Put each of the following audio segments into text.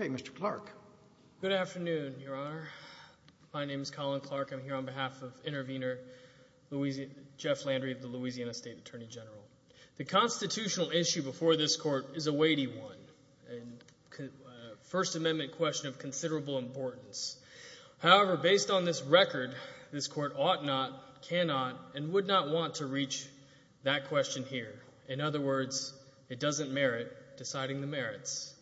Okay, Mr. Clark. Good afternoon, Your Honor. My name is Colin Clark. I'm here on behalf of Intervenor Jeff Landry, the Louisiana State Attorney General. The constitutional issue before this Court is a weighty one, a First Amendment question of considerable importance. However, based on this record, this Court ought not, cannot, and would not want to reach that question here. In other words, it doesn't merit deciding the merits.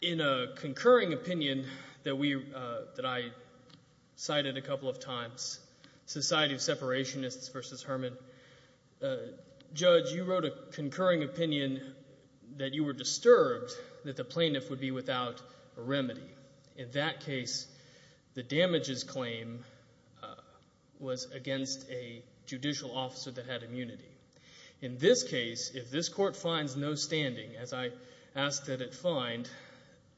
In a concurring opinion that I cited a couple of times, Society of Separationists v. Herman, Judge, you wrote a concurring opinion that you were disturbed that the plaintiff would be without a remedy. In that case, the damages claim was against a judicial officer that had immunity. In this case, if this Court finds no standing, as I asked that it find,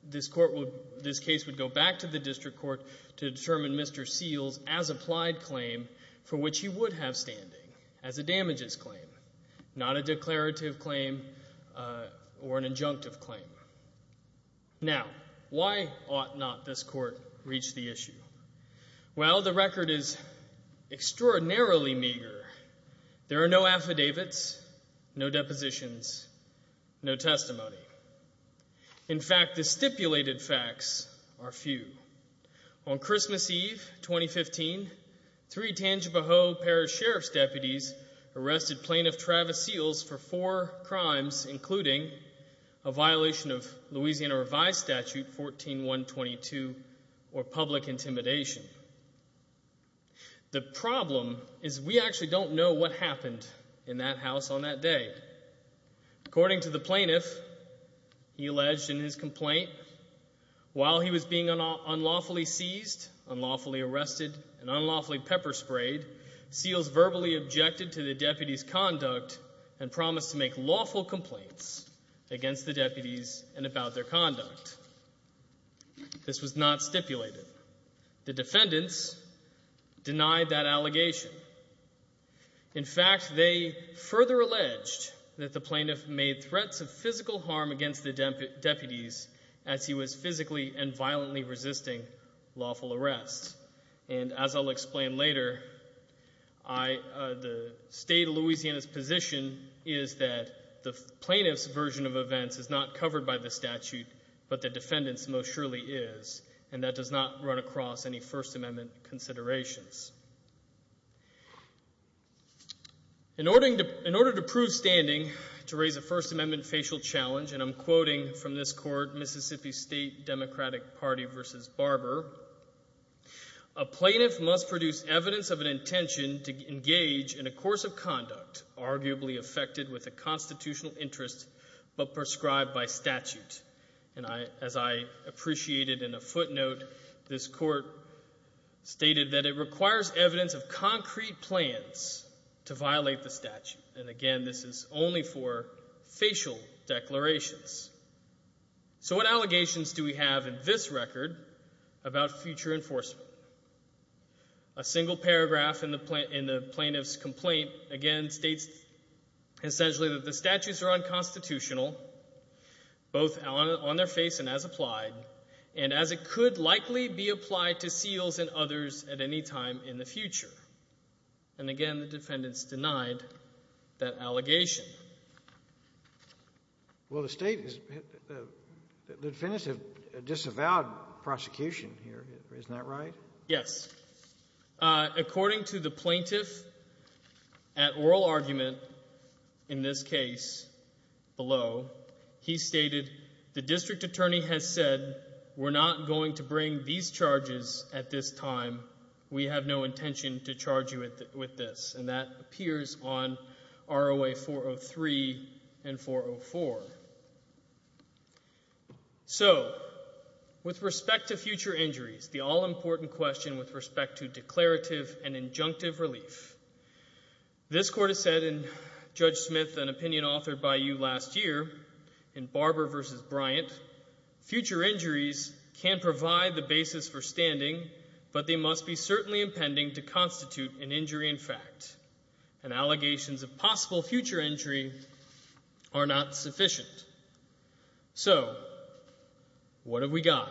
this Court would, this case would go back to the District Court to determine Mr. Seals as applied claim for which he would have standing as a damages claim, not a declarative claim or an injunctive claim. Now, why ought not this Court reach the issue? Well, the record is extraordinarily meager. There are no affidavits, no depositions, no testimony. In fact, the stipulated facts are few. On Christmas Eve, 2015, three Tangipahoa Parish Sheriff's deputies arrested Plaintiff Travis Seals for four crimes, including a violation of Louisiana Revised Statute 14122, or public intimidation. The problem is we actually don't know what happened in that house on that day. According to the plaintiff, he alleged in his complaint, while he was being unlawfully seized, unlawfully arrested, and unlawfully pepper sprayed, Seals verbally objected to the deputies' conduct and promised to make lawful complaints against the deputies and about their conduct. This was not stipulated. The defendants denied that allegation. In fact, they further alleged that the plaintiff made threats of physical harm against the deputies, violently resisting lawful arrests. And as I'll explain later, the State of Louisiana's position is that the plaintiff's version of events is not covered by the statute, but the defendant's most surely is, and that does not run across any First Amendment considerations. In order to prove standing, to raise a First Amendment facial challenge, and I'm quoting from this court, Mississippi State Democratic Party v. Barber, a plaintiff must produce evidence of an intention to engage in a course of conduct arguably affected with a constitutional interest but prescribed by statute. And as I appreciated in a footnote, this court stated that it requires evidence of concrete plans to violate the statute. And again, this is only for facial declarations. So what allegations do we have in this record about future enforcement? A single paragraph in the plaintiff's complaint, again, states essentially that the statutes are unconstitutional, both on their face and as applied, and as it could likely be applied to SEALs and others at any time in the future. And again, the defendants denied that allegation. Well the state, the defendants have disavowed prosecution here, isn't that right? Yes. According to the plaintiff at oral argument in this case below, he stated, the district attorney has said, we're not going to bring these charges at this time. We have no intention to charge you with this. And that appears on ROA 403 and 404. So with respect to future injuries, the all-important question with respect to declarative and injunctive relief, this court has said in Judge Smith, an opinion authored by you last year, in Barber v. Bryant, future injuries can provide the basis for standing, but they must be certainly impending to constitute an injury in fact. And allegations of possible future injury are not sufficient. So what have we got?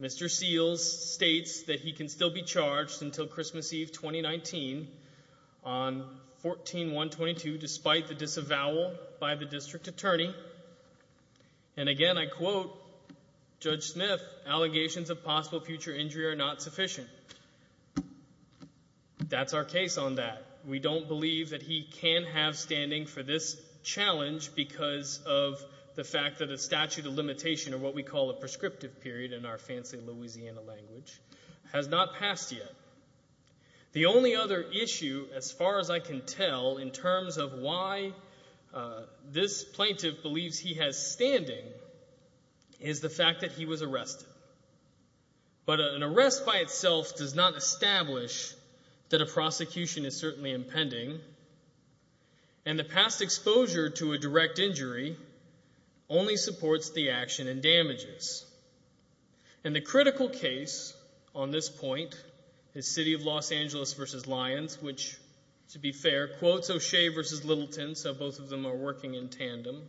Mr. Seals states that he can still be charged until Christmas Eve 2019 on 14-122, despite the disavowal by the district attorney. And again, I quote Judge Smith, allegations of possible future injury are not sufficient. That's our case on that. We don't believe that he can have standing for this challenge because of the fact that a statute of limitation, or what we call a prescriptive period in our statute, has not passed yet. The only other issue, as far as I can tell, in terms of why this plaintiff believes he has standing is the fact that he was arrested. But an arrest by itself does not establish that a prosecution is certainly impending. And the past exposure to a direct injury only supports the action and damages. And the critical case on this point is City of Los Angeles v. Lyons, which, to be fair, quotes O'Shea v. Littleton, so both of them are working in tandem.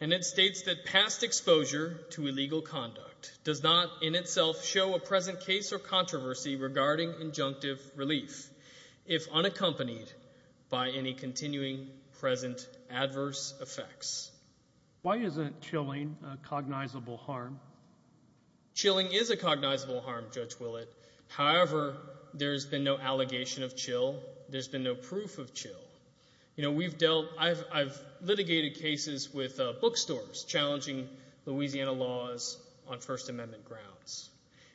And it states that past exposure to illegal conduct does not in itself show a present case or controversy regarding injunctive relief if unaccompanied by any continuing present adverse effects. Why isn't chilling a cognizable harm? Chilling is a cognizable harm, Judge Willett. However, there's been no allegation of chill. There's been no proof of chill. You know, we've dealt, I've litigated cases with bookstores challenging Louisiana laws on First Amendment grounds.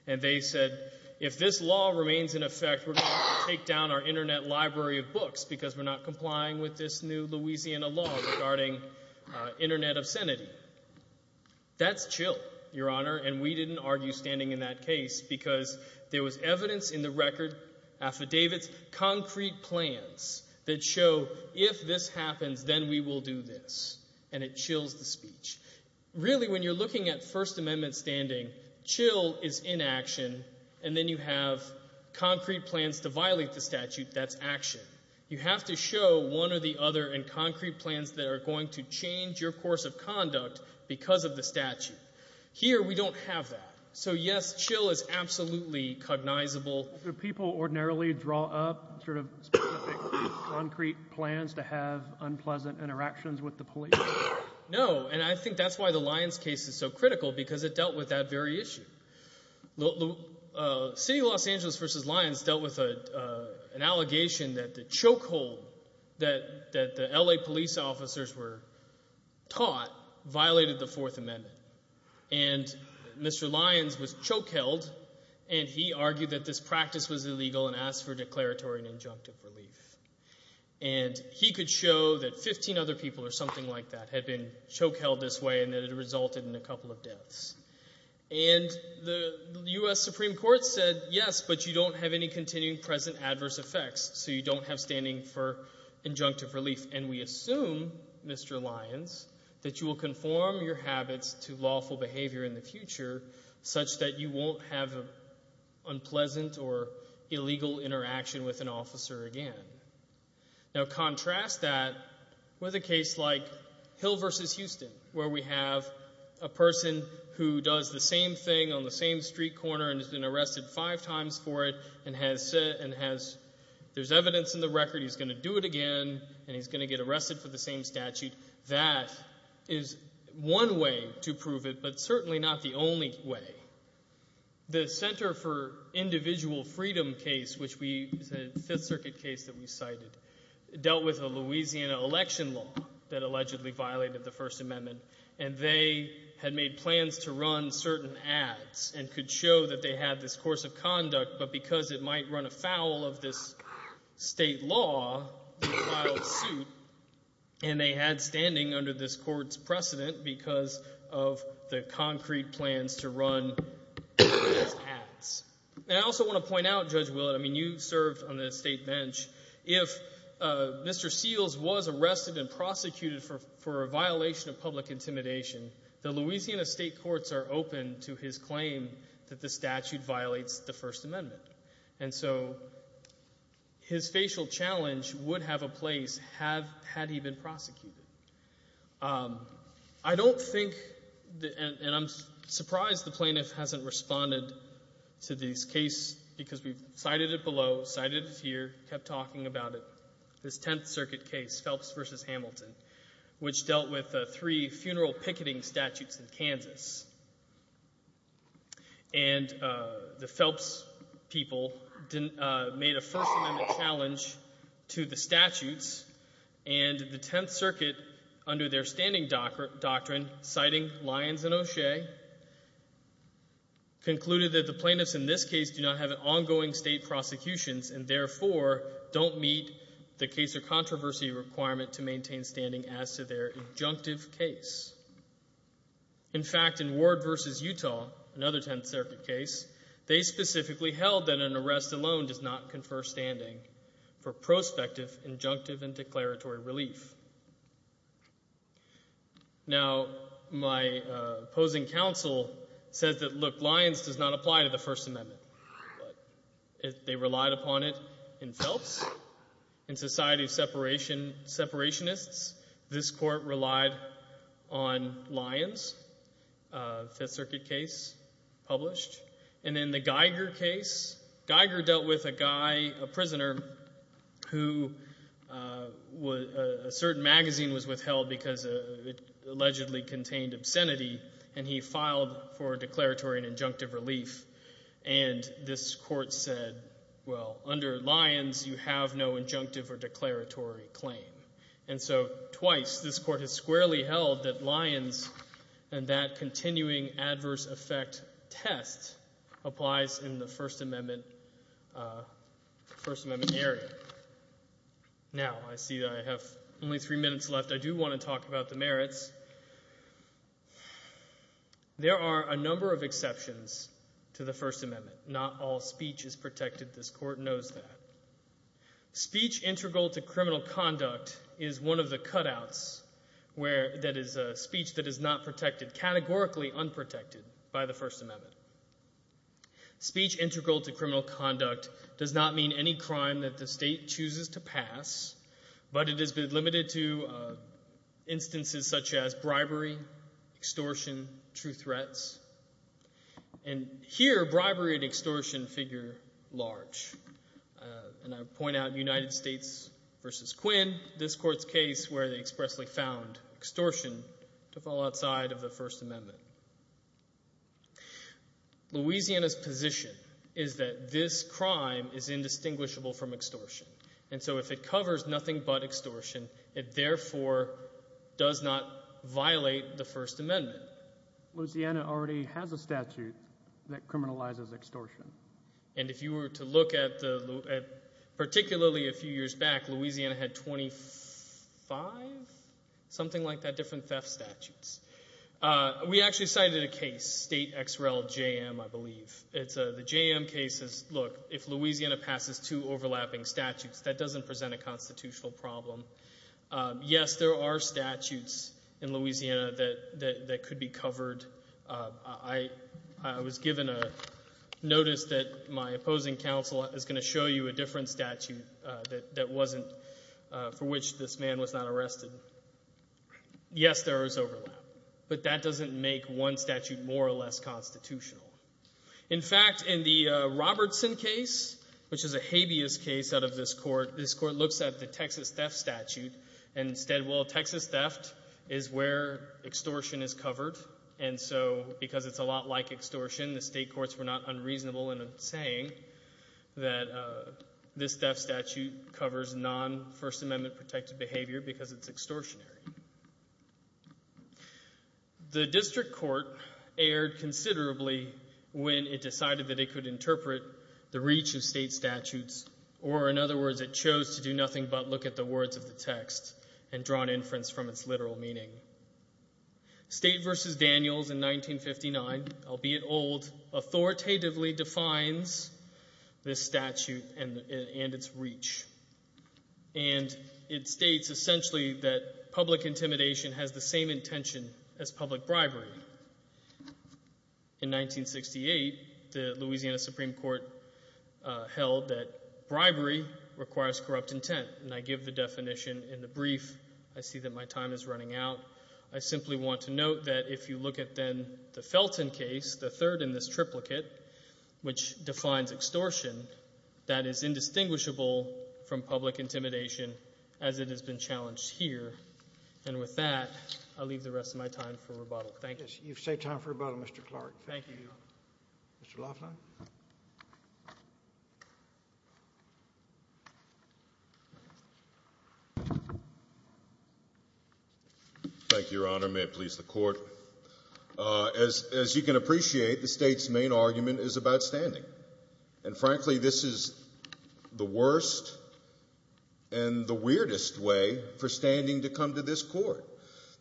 And they said, if this law remains in effect, we're going to take down our Internet library of books because we're not complying with this new Louisiana law regarding Internet obscenity. That's chill, Your Honor, and we didn't argue standing in that case because there was evidence in the record, affidavits, concrete plans that show if this happens, then we will do this. And it chills the speech. Really when you're looking at First Amendment standing, chill is inaction, and then you have concrete plans to violate the statute, that's action. You have to show one or the other in concrete plans that are going to change your course of conduct because of the statute. Here, we don't have that. So, yes, chill is absolutely cognizable. Do people ordinarily draw up sort of specific concrete plans to have unpleasant interactions with the police? No, and I think that's why the Lyons case is so critical, because it dealt with that very issue. The City of Los Angeles v. Lyons dealt with an allegation that the chokehold that the L.A. police officers were taught violated the Fourth Amendment. And Mr. Lyons was choke-held, and he argued that this practice was illegal and asked for declaratory and injunctive relief. And he could show that 15 other people or something like that had been choke-held this way and that it resulted in a couple of deaths. And the U.S. Supreme Court said, yes, but you don't have any continuing present adverse effects, so you don't have standing for injunctive relief. And we assume, Mr. Lyons, that you will conform your habits to lawful behavior in the future such that you won't have unpleasant or illegal interaction with an officer again. Now, contrast that with a case like Hill v. Houston, where we have a person who does the same thing on the same street corner and has been arrested five times for it and has, there's evidence in the record he's going to do it again and he's going to get arrested for the same statute. That is one way to prove it, but certainly not the only way. The Center for Individual Freedom case, which is a Fifth Circuit case that we cited, dealt with a Louisiana election law that allegedly violated the First Amendment. And they had made plans to run certain ads and could show that they had this course of conduct, but because it might run afoul of this state law, they filed suit. And they had standing under this court's And I also want to point out, Judge Willett, I mean, you served on the state bench. If Mr. Seals was arrested and prosecuted for a violation of public intimidation, the Louisiana state courts are open to his claim that the statute violates the First Amendment. And so his facial challenge would have a place had he been prosecuted. I don't think, and I'm surprised the plaintiff hasn't responded to this case because we've cited it below, cited it here, kept talking about it, this Tenth Circuit case, Phelps v. Hamilton, which dealt with three funeral picketing statutes in Kansas. And the Phelps people made a First Amendment challenge to the statutes, and the Tenth Circuit, under their standing doctrine, citing Lyons and O'Shea, concluded that the plaintiffs in this case do not have ongoing state prosecutions and therefore don't meet the case or controversy requirement to maintain standing as to their injunctive case. In fact, in Ward v. Utah, another Tenth Circuit case, they specifically held that an arrest alone does not confer standing for prospective injunctive and declaratory relief. Now, my opposing counsel says that, look, Lyons does not apply to the First Amendment. They relied upon it in Phelps, in society of separationists. This court relied on Lyons, Fifth Circuit case published. And in the Geiger case, Geiger dealt with a guy, a prisoner, who a certain magazine was withheld because it allegedly contained obscenity, and he filed for declaratory and injunctive relief. And this court said, well, under Lyons, you have no injunctive or declaratory claim. And so twice this court has squarely held that Lyons and that continuing adverse effect test applies in the First Amendment area. Now, I see that I have only three minutes left. I do want to talk about the merits. There are a number of exceptions to the First Amendment. Not all speech is protected. This court knows that. Speech integral to criminal conduct is one of the cutouts that is speech that is not protected, categorically unprotected, by the First Amendment. Speech integral to criminal conduct does not mean any crime that the state chooses to pass, but it has been limited to instances such as bribery, extortion, true threats. And here, bribery and extortion figure large. And I point out United States v. Quinn, this court's case where they expressly found extortion to fall outside of the First Amendment. Louisiana's position is that this crime is indistinguishable from extortion. And so if it covers nothing but extortion, it therefore does not violate the First Amendment. Louisiana already has a statute that criminalizes extortion. And if you were to look at particularly a few years back, Louisiana had 25, something like that, different theft statutes. We actually cited a case, State X. Rel. J.M., I believe. It's a, the J.M. case is, look, if Louisiana passes two overlapping statutes, that doesn't present a constitutional problem. Yes, there are statutes in Louisiana that could be covered. I was given a notice that my opposing counsel is going to show you a different statute that wasn't, for which this man was not arrested. So yes, there is overlap. But that doesn't make one statute more or less constitutional. In fact, in the Robertson case, which is a habeas case out of this court, this court looks at the Texas theft statute. And instead, well, Texas theft is where extortion is covered. And so because it's a lot like extortion, the state courts were not unreasonable in saying that this theft statute covers non-First Amendment protected behavior because it's extortionary. The district court erred considerably when it decided that it could interpret the reach of state statutes, or in other words, it chose to do nothing but look at the words of the text and draw an inference from its literal meaning. State v. Daniels in 1959, albeit old, authoritatively defines this statute and its reach. And it states essentially that public intimidation has the same intention as public bribery. In 1968, the Louisiana Supreme Court held that bribery requires corrupt intent. And I give the definition in the brief. I see that my time is running out. I simply want to note that if you look at then the Felton case, the third in this triplicate, which defines extortion, that is indistinguishable from public intimidation as it has been challenged here. And with that, I'll leave the rest of my time for rebuttal. Thank you. You've saved time for rebuttal, Mr. Clark. Thank you. Mr. Laughlin. Thank you, Your Honor. May it please the Court. As you can appreciate, the state's main argument is about standing. And frankly, this is the worst and the weirdest way for standing to come to this Court.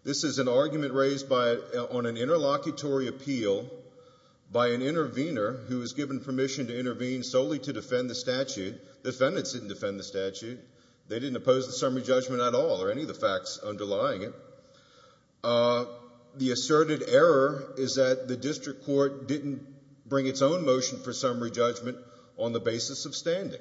This is an argument raised on an interlocutory appeal by an intervener who was given permission to intervene solely to defend the statute. The defendants didn't defend the statute. They didn't oppose the summary judgment at all or any of the facts motion for summary judgment on the basis of standing.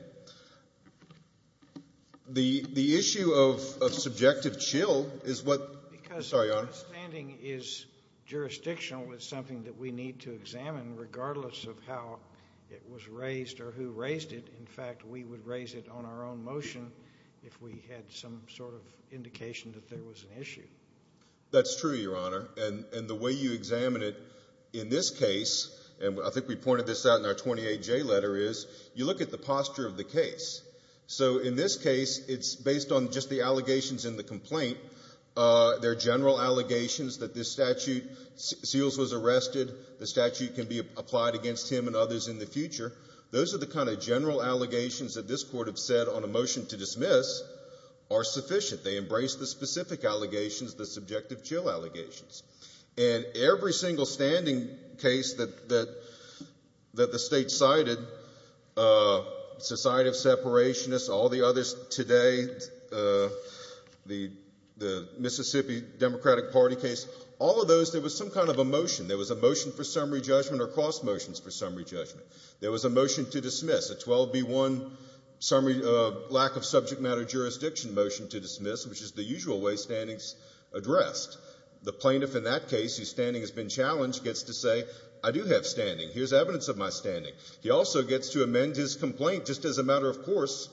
The issue of subjective chill is what — Because — Sorry, Your Honor. — standing is jurisdictional. It's something that we need to examine regardless of how it was raised or who raised it. In fact, we would raise it on our own motion if we had some sort of indication that there was an issue. That's true, Your Honor. And the way you examine it in this case, and I think we pointed this out in our 28J letter, is you look at the posture of the case. So in this case, it's based on just the allegations in the complaint. They're general allegations that this statute — Seals was arrested. The statute can be applied against him and others in the future. Those are the kind of general allegations that this Court have said on a motion to dismiss are sufficient. They embrace the specific allegations, the subjective chill allegations. And every single standing case that the State cited, society of separationists, all the others today, the Mississippi Democratic Party case, all of those, there was some kind of a motion. There was a motion for summary judgment or cross motions for summary judgment. There was a motion to dismiss, a 12B1 lack-of-subject-matter-jurisdiction motion to dismiss, which is the usual way standings addressed. The plaintiff in that case whose standing has been challenged gets to say, I do have standing. Here's evidence of my standing. He also gets to amend his complaint just as a matter of course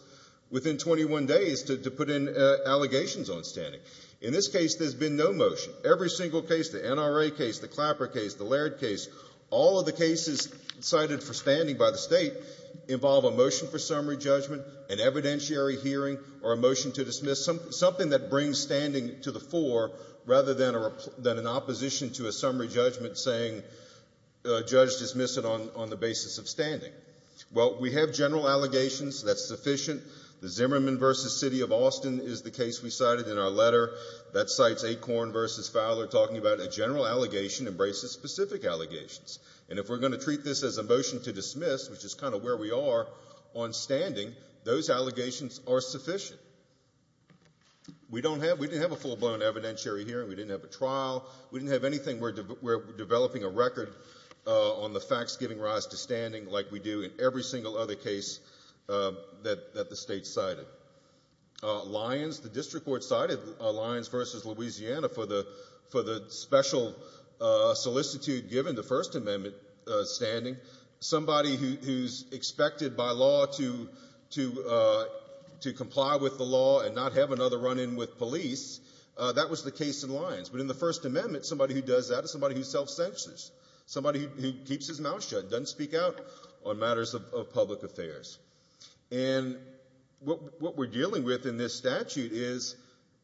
within 21 days to put in allegations on standing. In this case, there's been no motion. Every single case, the NRA case, the Clapper case, the Laird case, all of the cases cited for standing by the State involve a motion for summary judgment, an evidentiary hearing, or a motion to dismiss, something that brings standing to the fore rather than an opposition to a summary judgment saying judge dismiss it on the basis of standing. Well, we have general allegations. That's sufficient. The Zimmerman v. City of Austin is the case we cited in our letter that cites Acorn v. Fowler talking about a general allegation embraces specific allegations. And if we're going to treat this as a motion to dismiss, which is kind of where we are on standing, those allegations are sufficient. We don't have we didn't have a full-blown evidentiary hearing. We didn't have a trial. We didn't have anything. We're developing a record on the facts giving rise to standing like we do in every single other case that the State cited. Lyons, the district court cited Lyons v. Louisiana for the special solicitude given to First Amendment standing. Somebody who's expected by law to comply with the law and not have another run-in with police, that was the case in Lyons. But in the First Amendment, somebody who does that is somebody who self-censors, somebody who keeps his mouth shut, doesn't speak out on matters of public affairs. And what we're dealing with in this statute is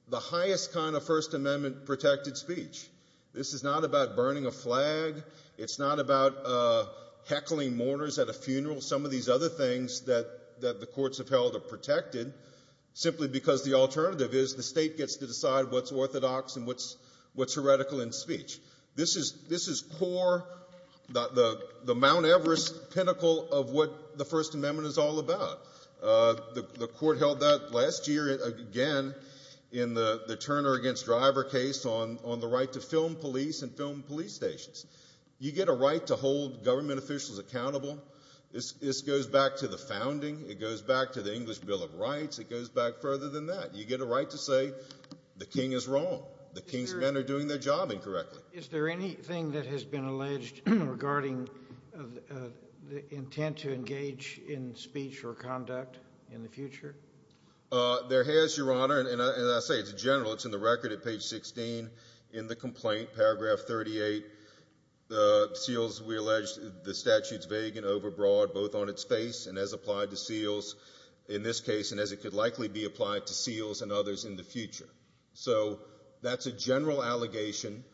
the highest kind of First Amendment-protected speech. This is not about burning a flag. It's not about heckling mourners at a funeral. Some of these other things that the courts have held are protected simply because the alternative is the State gets to decide what's of what the First Amendment is all about. The court held that last year again in the Turner v. Driver case on the right to film police and film police stations. You get a right to hold government officials accountable. This goes back to the founding. It goes back to the English Bill of Rights. It goes back further than that. You get a right to say the king is wrong. The king's men are doing their job incorrectly. Is there anything that has been alleged regarding the intent to engage in speech or conduct in the future? There has, Your Honor. And as I say, it's general. It's in the record at page 16 in the complaint, paragraph 38. The seals, we allege, the statute's vague and overbroad both on its face and as applied to seals in this case and as it could likely be applied to seals and others in the future. So that's a general allegation,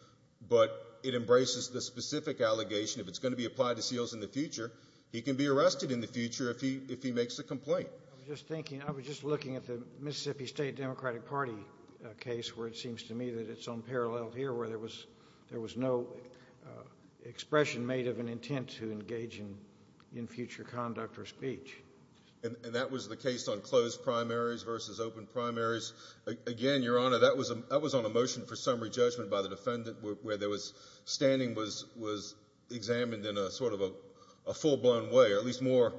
but it embraces the specific allegation. If it's going to be applied to seals in the future, he can be arrested in the future if he makes a complaint. I was just thinking, I was just looking at the Mississippi State Democratic Party case where it seems to me that it's unparalleled here where there was no expression made of an intent to engage in future conduct or speech. And that was the case on closed primaries versus open primaries. Again, Your Honor, that was on a motion for summary judgment by the defendant where there was, standing was examined in a sort of a full-blown way, or at least more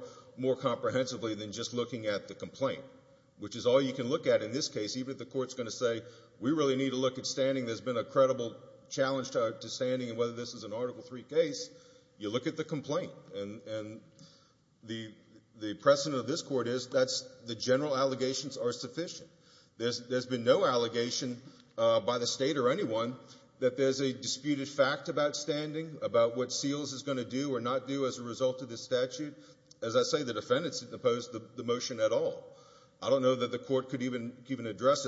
comprehensively than just looking at the complaint, which is all you can look at in this case. Even if the court's going to say, we really need to look at standing, there's been a credible challenge to standing and whether this is an Article III case, you look at the complaint. And the precedent of this Court is that the general allegations are sufficient. There's been no allegation by the State or anyone that there's a disputed fact about standing, about what seals is going to do or not do as a result of this statute. As I say, the defendants didn't oppose the motion at all. I don't know that the Court could even address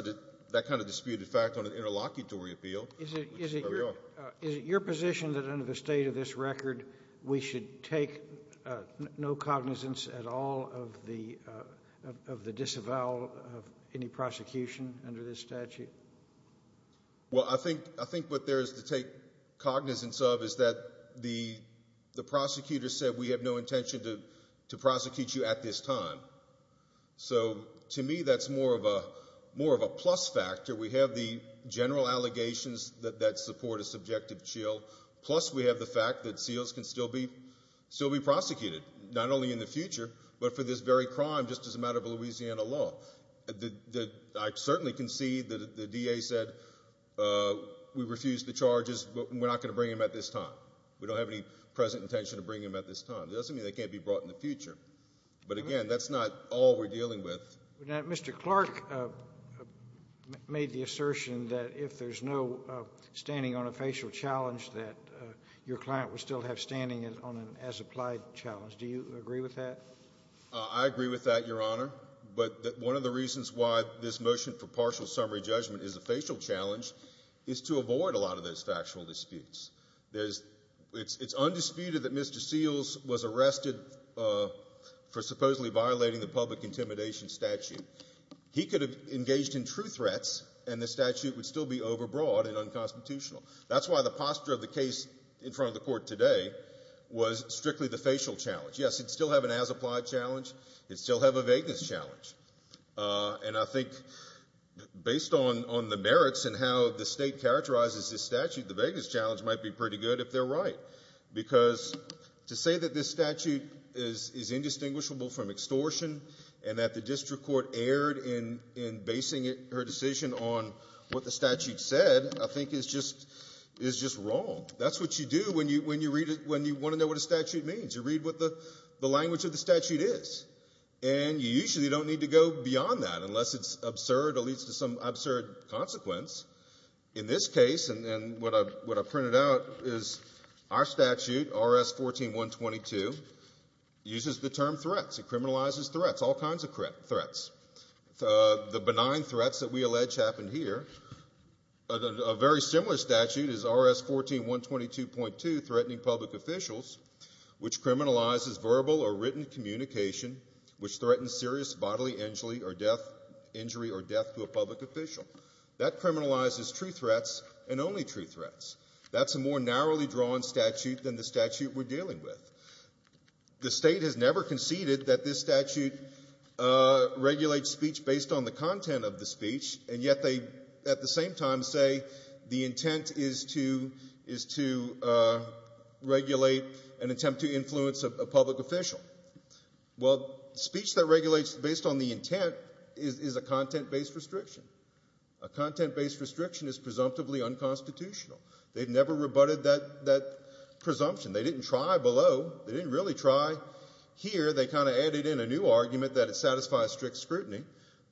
that kind of disputed fact on an interlocutory appeal. Is it your position that under the state of this record, we should take no cognizance at all of the disavowal of any prosecution under this statute? Well, I think what there is to take cognizance of is that the prosecutor said, we have no intention to prosecute you at this time. So to me, that's more of a plus factor. We have the general allegations that support a subjective chill, plus we have the fact that seals can still be prosecuted, not only in the future, but for this very crime just as a matter of Louisiana law. I certainly concede that the DA said we refuse the charges, but we're not going to bring them at this time. We don't have any present intention to bring them at this time. It doesn't mean they can't be brought in the future. But again, that's not all we're dealing with. Now, Mr. Clark made the assertion that if there's no standing on a facial challenge, that your client would still have standing on an as-applied challenge. Do you agree with that? I agree with that, Your Honor. But one of the reasons why this motion for partial summary judgment is a facial challenge is to avoid a lot of those factual disputes. It's undisputed that Mr. Seals was arrested for supposedly violating the public intimidation statute. He could have engaged in true threats, and the statute would still be overbroad and unconstitutional. That's why the posture of the case in front of the court today was strictly the facial challenge. Yes, it'd still have an as-applied challenge. It'd still have a vagueness challenge. And I think based on the merits and how the state characterizes this statute, the vagueness challenge might be pretty good if they're right. Because to say that this statute is indistinguishable from extortion, and that the district court erred in basing her decision on what the statute said, I think is just wrong. That's what you do when you want to know what a statute means. You read what the language of the statute is. And you usually don't need to go beyond that unless it's absurd or leads to some absurd consequence. In this case, what I've printed out is our statute, RS-14122, uses the term threats. It criminalizes threats, all kinds of threats. The benign threats that we allege happen here. A very similar statute is RS-14122.2, threatening public officials, which criminalizes verbal or written communication which threatens serious bodily injury or death to a public official. That criminalizes true threats and only true threats. That's a more narrowly drawn statute than the statute we're dealing with. The state has never conceded that this statute regulates speech based on the content of the speech, and yet they at the same time say the intent is to regulate an attempt to influence a public official. Well, speech that regulates based on the intent is a content-based restriction. A content-based restriction is presumptively unconstitutional. They've never rebutted that presumption. They didn't try below. They didn't really try here. They kind of added in a new argument that it satisfies strict scrutiny,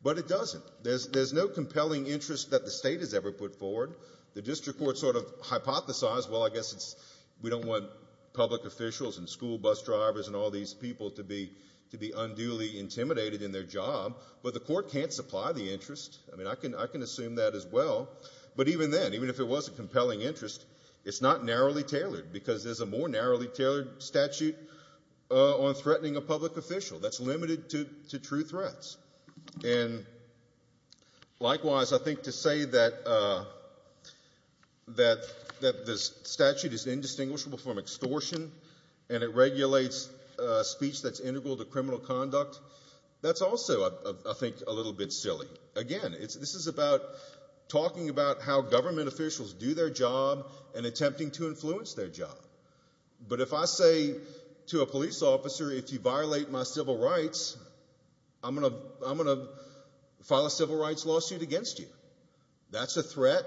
but it doesn't. There's no compelling interest that the state has ever put forward. The district court sort of hypothesized, well, I guess we don't want public officials and school bus drivers and all these people to be unduly intimidated in their job, but the court can't supply the interest. I mean, I can assume that as well, but even then, even if it was a compelling interest, it's not narrowly tailored because there's a more narrowly tailored statute on threatening a public official that's limited to true threats. And likewise, I think to say that this statute is indistinguishable from extortion and it regulates speech that's integral to criminal conduct, that's also, I think, a little bit silly. Again, this is about talking about how government officials do their job and attempting to influence their job. But if I say to a police officer, if you violate my civil rights, I'm going to threaten you. That's a threat,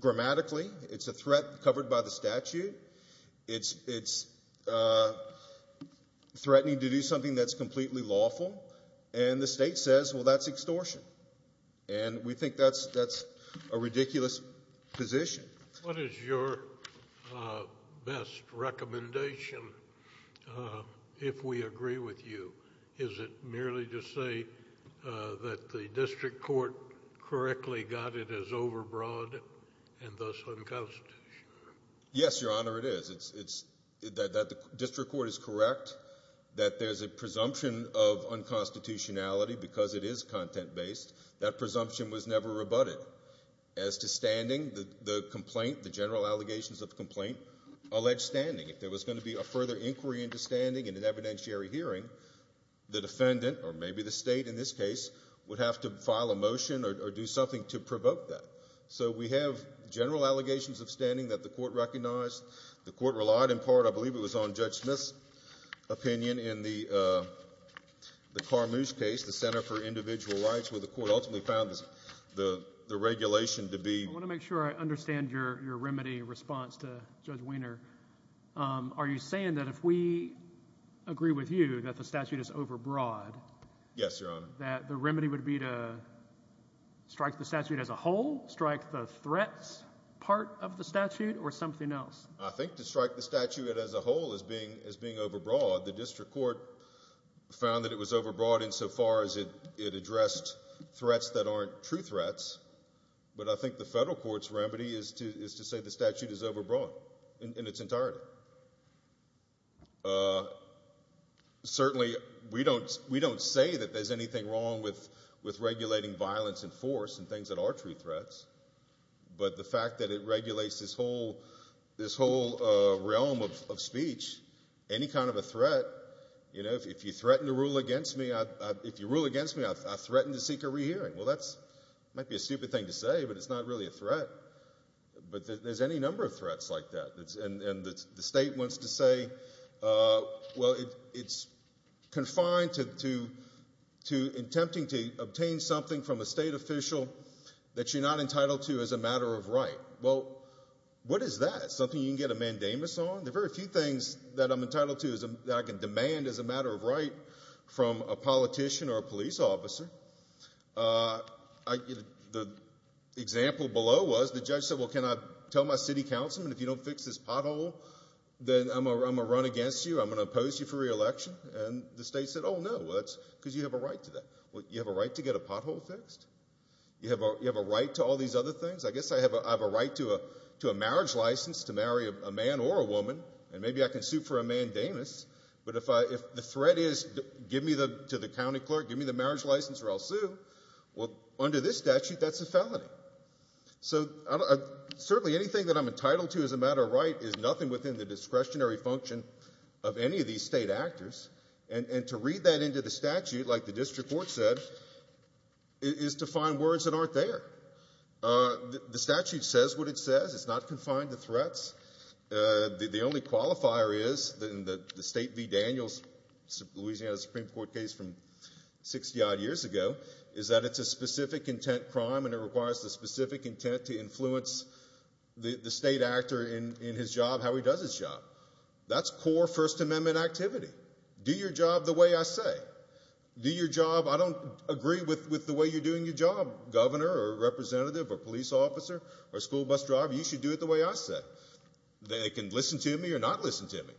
grammatically. It's a threat covered by the statute. It's threatening to do something that's completely lawful. And the state says, well, that's extortion. And we think that's a ridiculous position. What is your best recommendation, if we agree with you? Is it merely to say that the district court correctly got it as overbroad and thus unconstitutional? Yes, Your Honor, it is. It's that the district court is correct that there's a presumption of unconstitutionality because it is content-based. That presumption was never rebutted. As to standing, the complaint, the general allegations of the complaint, allege standing. If there was going to be a further inquiry into standing in an evidentiary hearing, the defendant, or maybe the state in this case, would have to file a motion or do something to provoke that. So we have general allegations of standing that the court recognized. The court relied in part, I believe it was on Judge Smith's opinion in the Carmoose case, the Center for Individual Rights, where the court ultimately found the regulation to be... I want to make sure I understand your remedy response to Judge Weiner. Are you saying that if we agree with you that the statute is overbroad, that the remedy would be to strike the statute as a whole, strike the threats part of the statute, or something else? I think to strike the statute as a whole as being overbroad, the district court found that it was overbroad insofar as it addressed threats that aren't true threats, but I think the federal court's remedy is to say the statute is overbroad in its entirety. Certainly, we don't say that there's anything wrong with regulating violence and force and things that aren't true threats, but the fact that it regulates this whole realm of speech, any kind of a threat, you know, if you threaten to rule against me, I threaten to seek a re-hearing. Well, that might be a stupid thing to say, but it's not really a threat, but there's any number of threats like that, and the state wants to say, well, it's confined to attempting to obtain something from a state official that you're not entitled to as a matter of right. Well, what is that? Something you can get a mandamus on? There are very few things that I'm entitled to that I can demand as a matter of right from a politician or a police officer. The example below was the judge said, well, can I tell my city councilman if you don't fix this pothole, then I'm going to run against you, I'm going to oppose you for re-election, and the state said, oh, no, that's because you have a right to that. Well, you have a right to get a pothole fixed? You have a right to all these other things? I guess I have a right to a marriage license to marry a man or a woman, and maybe I can get a marriage license or I'll sue. Well, under this statute, that's a felony. So certainly anything that I'm entitled to as a matter of right is nothing within the discretionary function of any of these state actors, and to read that into the statute like the district court said is to find words that aren't there. The statute says what it says. It's not confined to threats. The only qualifier is in the state v. Daniels, Louisiana Supreme Court case from 60-odd years ago, is that it's a specific intent crime and it requires the specific intent to influence the state actor in his job, how he does his job. That's core First Amendment activity. Do your job the way I say. Do your job. I don't agree with the way you're doing your job, governor or representative or police officer or school bus driver. You should do it the way I say. They can listen to me or not listen to me,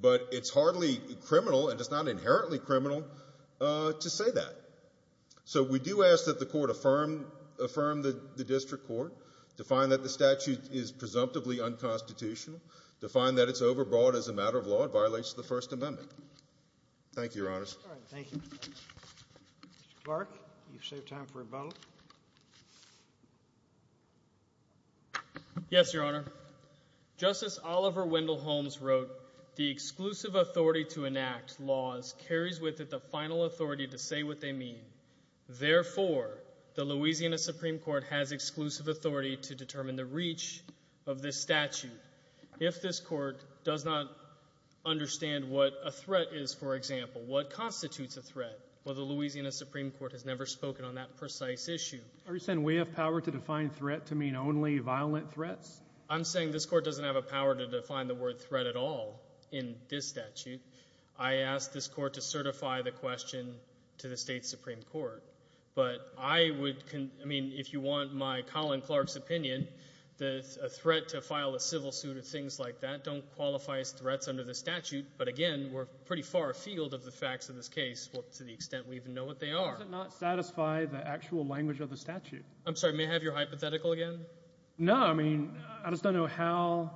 but it's hardly criminal to say that. So we do ask that the court affirm the district court, to find that the statute is presumptively unconstitutional, to find that it's overbroad as a matter of law and violates the First Amendment. Thank you, your honors. Mr. Clark, you've saved time for a vote. Yes, your honor. Justice Oliver Wendell Holmes wrote, the exclusive authority to enact laws carries with it the final authority to say what they mean. Therefore, the Louisiana Supreme Court has exclusive authority to determine the reach of this statute. If this court does not understand what a threat is, for example, what constitutes a threat? Well, the Louisiana Supreme Court has never spoken on that precise issue. Are you saying we have power to define threat to mean only violent threats? I'm saying this court doesn't have a power to define the word threat at all in this statute. I ask this court to certify the question to the state Supreme Court. But I would, I mean, if you want my Colin Clark's opinion, a threat to file a civil suit or things like that don't qualify as threats under the statute. But again, we're pretty far afield of the facts of this case to the extent we even know what they are. Does it not satisfy the actual language of the statute? I'm sorry, may I have your hypothetical again? No, I mean, I just don't know how.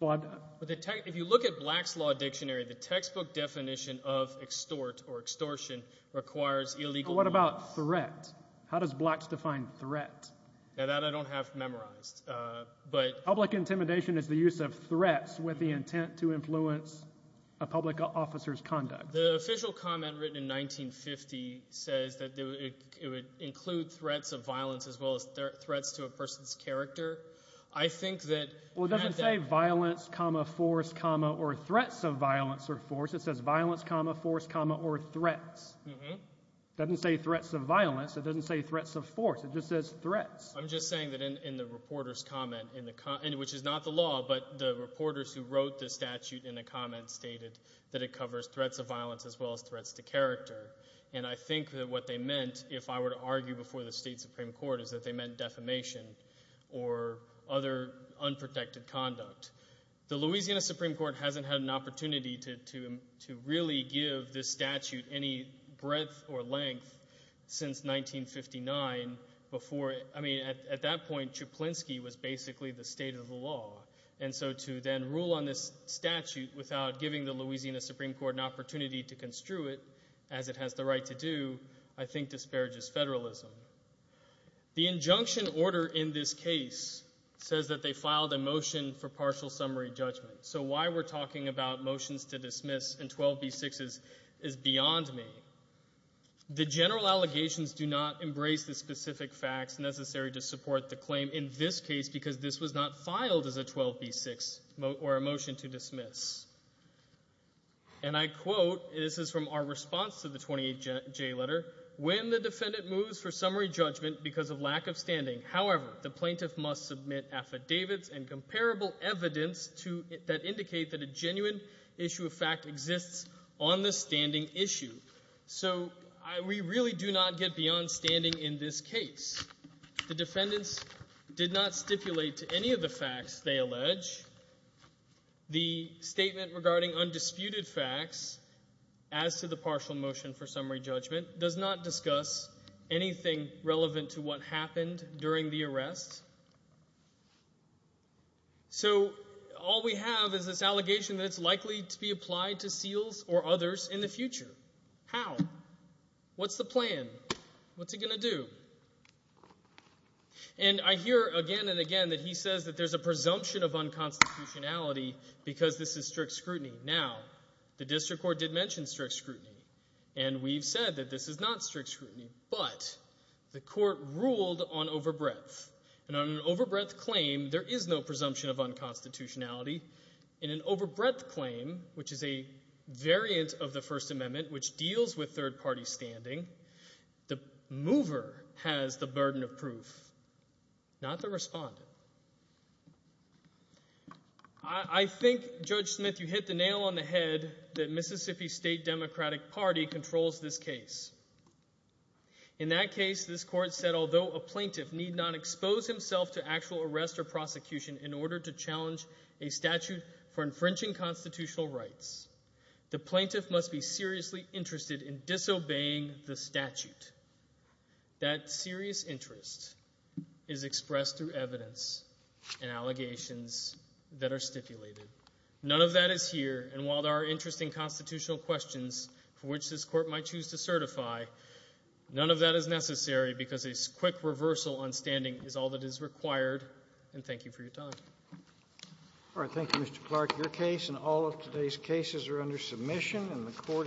But if you look at Black's Law Dictionary, the textbook definition of extort or extortion requires illegal... What about threat? How does Black's define threat? Now that I don't have memorized, but... Public intimidation is the use of threats with the intent to influence a public officer's conduct. The official comment written in 1950 says that it would include threats of violence as well as threats to a person's character. I think that... Well, it doesn't say violence, comma, force, comma, or threats of violence or force. It says violence, comma, force, comma, or threats. It doesn't say threats of violence. It doesn't say threats of force. It just says threats. I'm just saying that in the reporter's comment, which is not the law, but the reporters who said it, that it would include threats of violence as well as threats to character. And I think that what they meant, if I were to argue before the State Supreme Court, is that they meant defamation or other unprotected conduct. The Louisiana Supreme Court hasn't had an opportunity to really give this statute any breadth or length since 1959 before... At that point, Chuplinski was basically the state of the law. And so to then rule on this opportunity to construe it, as it has the right to do, I think disparages federalism. The injunction order in this case says that they filed a motion for partial summary judgment. So why we're talking about motions to dismiss in 12b-6 is beyond me. The general allegations do not embrace the specific facts necessary to support the claim in this case because this was not filed as a 12b-6 or a motion to dismiss. And I quote, this is from our response to the 28J letter, when the defendant moves for summary judgment because of lack of standing, however, the plaintiff must submit affidavits and comparable evidence that indicate that a genuine issue of fact exists on the standing issue. So we really do not get beyond standing in this case. The defendants did not stipulate to any of the facts they allege. The statement regarding undisputed facts as to the partial motion for summary judgment does not discuss anything relevant to what happened during the arrest. So all we have is this allegation that it's likely to be applied to seals or others in the future. How? What's the plan? What's it going to do? And I hear again and again that he says that there's a presumption of unconstitutionality because this is strict scrutiny. Now, the district court did mention strict scrutiny, and we've said that this is not strict scrutiny, but the court ruled on overbreadth. And on an overbreadth claim, there is no presumption of unconstitutionality. In an overbreadth claim, which is a variant of the First Amendment, which deals with third-party standing, the mover has the burden of proof, not the respondent. I think, Judge Smith, you hit the nail on the head that Mississippi State Democratic Party controls this case. In that case, this court said, although a plaintiff need not expose himself to actual arrest or prosecution in order to challenge a statute for infringing constitutional rights, the plaintiff must be seriously interested in disobeying the statute. That serious interest is expressed through evidence and allegations that are stipulated. None of that is here, and while there are interesting constitutional questions for which this court might choose to certify, none of that is necessary because a quick reversal on standing is all that is required. And thank you for your time. All right. Thank you, Mr. Clark. Your case and all of today's cases are under submission, and the court is adjourned.